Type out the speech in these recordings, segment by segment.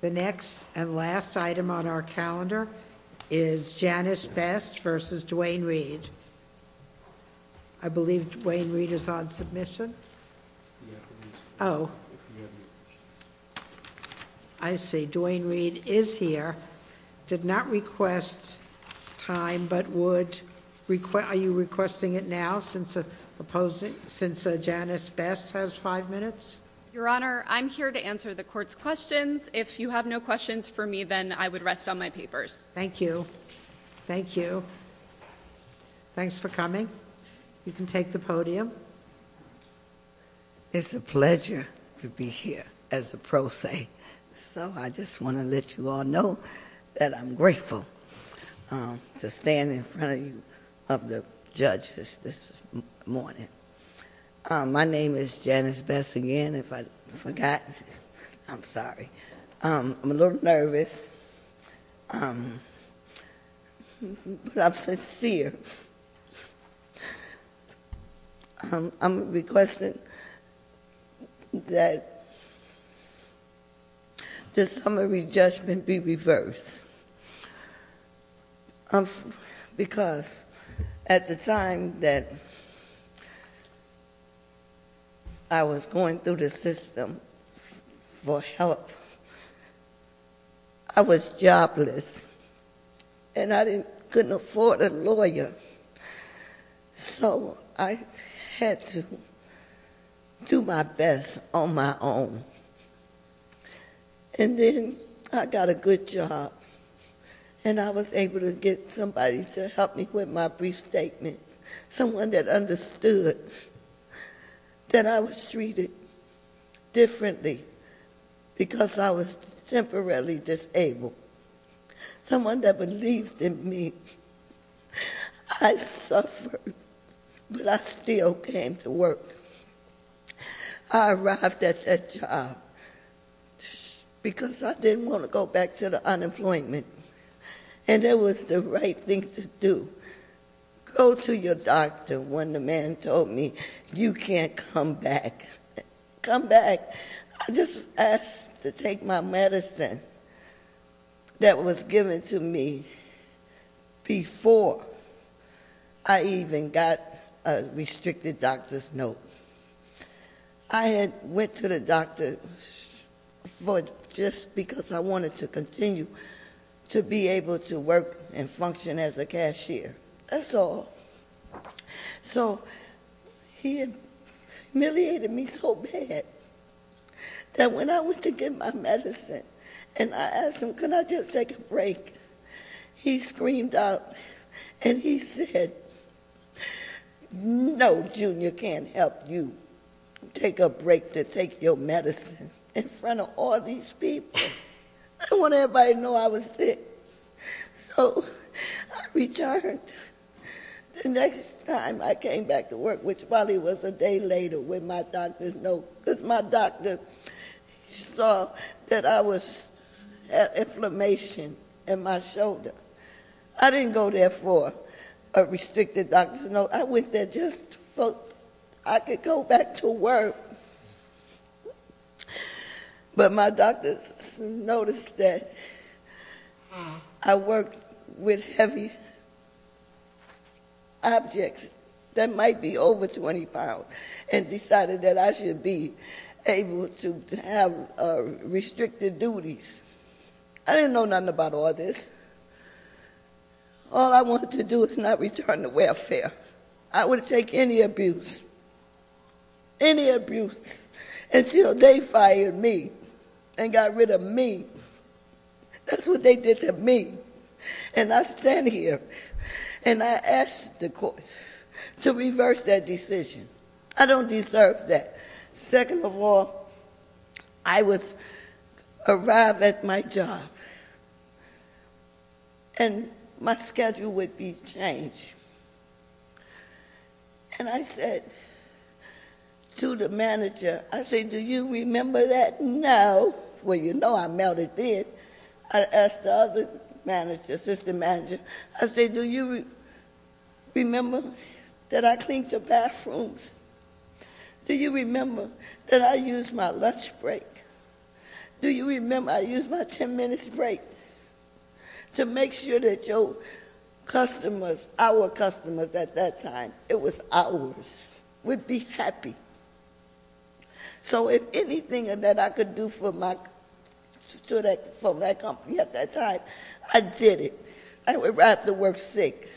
The next and last item on our calendar is Janice Best v. Duane Reade. I believe Duane Reade is on submission. Oh, I see. Duane Reade is here. Did not request time, but would—are you requesting it now since Janice Best has five minutes? Your Honor, I'm here to answer the Court's questions. If you have no questions for me, then I would rest on my papers. Thank you. Thank you. Thanks for coming. You can take the podium. It's a pleasure to be here as a pro se, so I just want to let you all know that I'm grateful to stand in front of you, of the judges, this morning. My name is Janice Best again. If I forgot, I'm sorry. I'm a little nervous, but I'm sincere. I'm requesting that the summary judgment be reversed because at the time that I was going through the system for help, I was jobless, and I couldn't afford a lawyer, so I had to do my best on my own. And then I got a good job, and I was able to get somebody to help me with my brief statement, someone that understood that I was treated differently because I was temporarily disabled, someone that believed in me. I suffered, but I still came to work. I arrived at that job because I didn't want to go back to the unemployment, and that was the right thing to do. Go to your doctor when the man told me you can't come back. Come back. I just asked to take my medicine that was given to me before I even got a restricted doctor's note. I had went to the doctor just because I wanted to continue to be able to work and function as a cashier. That's all. So he humiliated me so bad that when I went to get my medicine and I asked him, can I just take a break, he screamed out and he said, no, junior, can't help you take a break to take your medicine in front of all these people. I didn't want everybody to know I was sick, so I returned. The next time I came back to work, which probably was a day later with my doctor's note, because my doctor saw that I had inflammation in my shoulder. I didn't go there for a restricted doctor's note. I went there just so I could go back to work, but my doctor noticed that I worked with heavy objects that might be over 20 pounds and decided that I should be able to have restricted duties. I didn't know nothing about all this. All I wanted to do was not return to welfare. I wouldn't take any abuse, any abuse, until they fired me and got rid of me. That's what they did to me, and I stand here and I ask the courts to reverse that decision. I don't deserve that. Second of all, I arrived at my job, and my schedule would be changed. I said to the manager, I said, do you remember that now? Well, you know I melted in. I asked the other manager, assistant manager, I said, do you remember that I cleaned your bathrooms? Do you remember that I used my lunch break? Do you remember I used my 10-minute break to make sure that your customers, our customers at that time, it was ours, would be happy. So if anything that I could do for my company at that time, I did it. I arrived at work sick.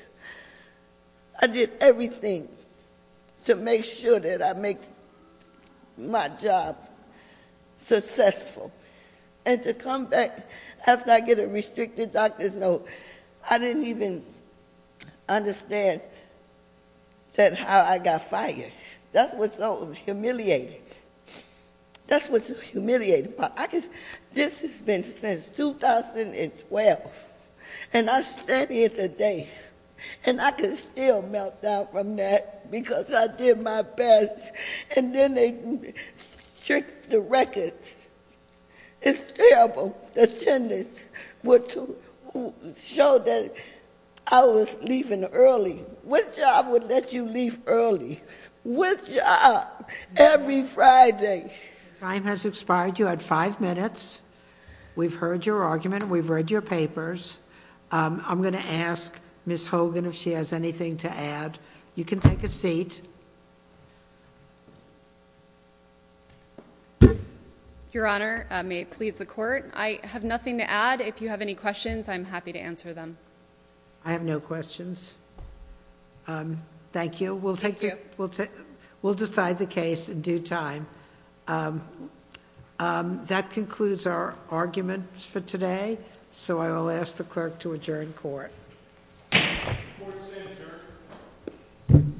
I did everything to make sure that I make my job successful. And to come back after I get a restricted doctor's note, I didn't even understand that how I got fired. That's what's so humiliating. That's what's humiliating. This has been since 2012, and I stand here today, and I can still melt down from that because I did my best. And then they stripped the records. It's terrible. The attendants would show that I was leaving early. Which job would let you leave early? Which job? Every Friday. Time has expired. You had five minutes. We've heard your argument. We've read your papers. I'm going to ask Ms. Hogan if she has anything to add. You can take a seat. Your Honor, may it please the court, I have nothing to add. If you have any questions, I'm happy to answer them. I have no questions. Thank you. We'll decide the case in due time. That concludes our argument for today, so I will ask the clerk to adjourn court. Court is adjourned.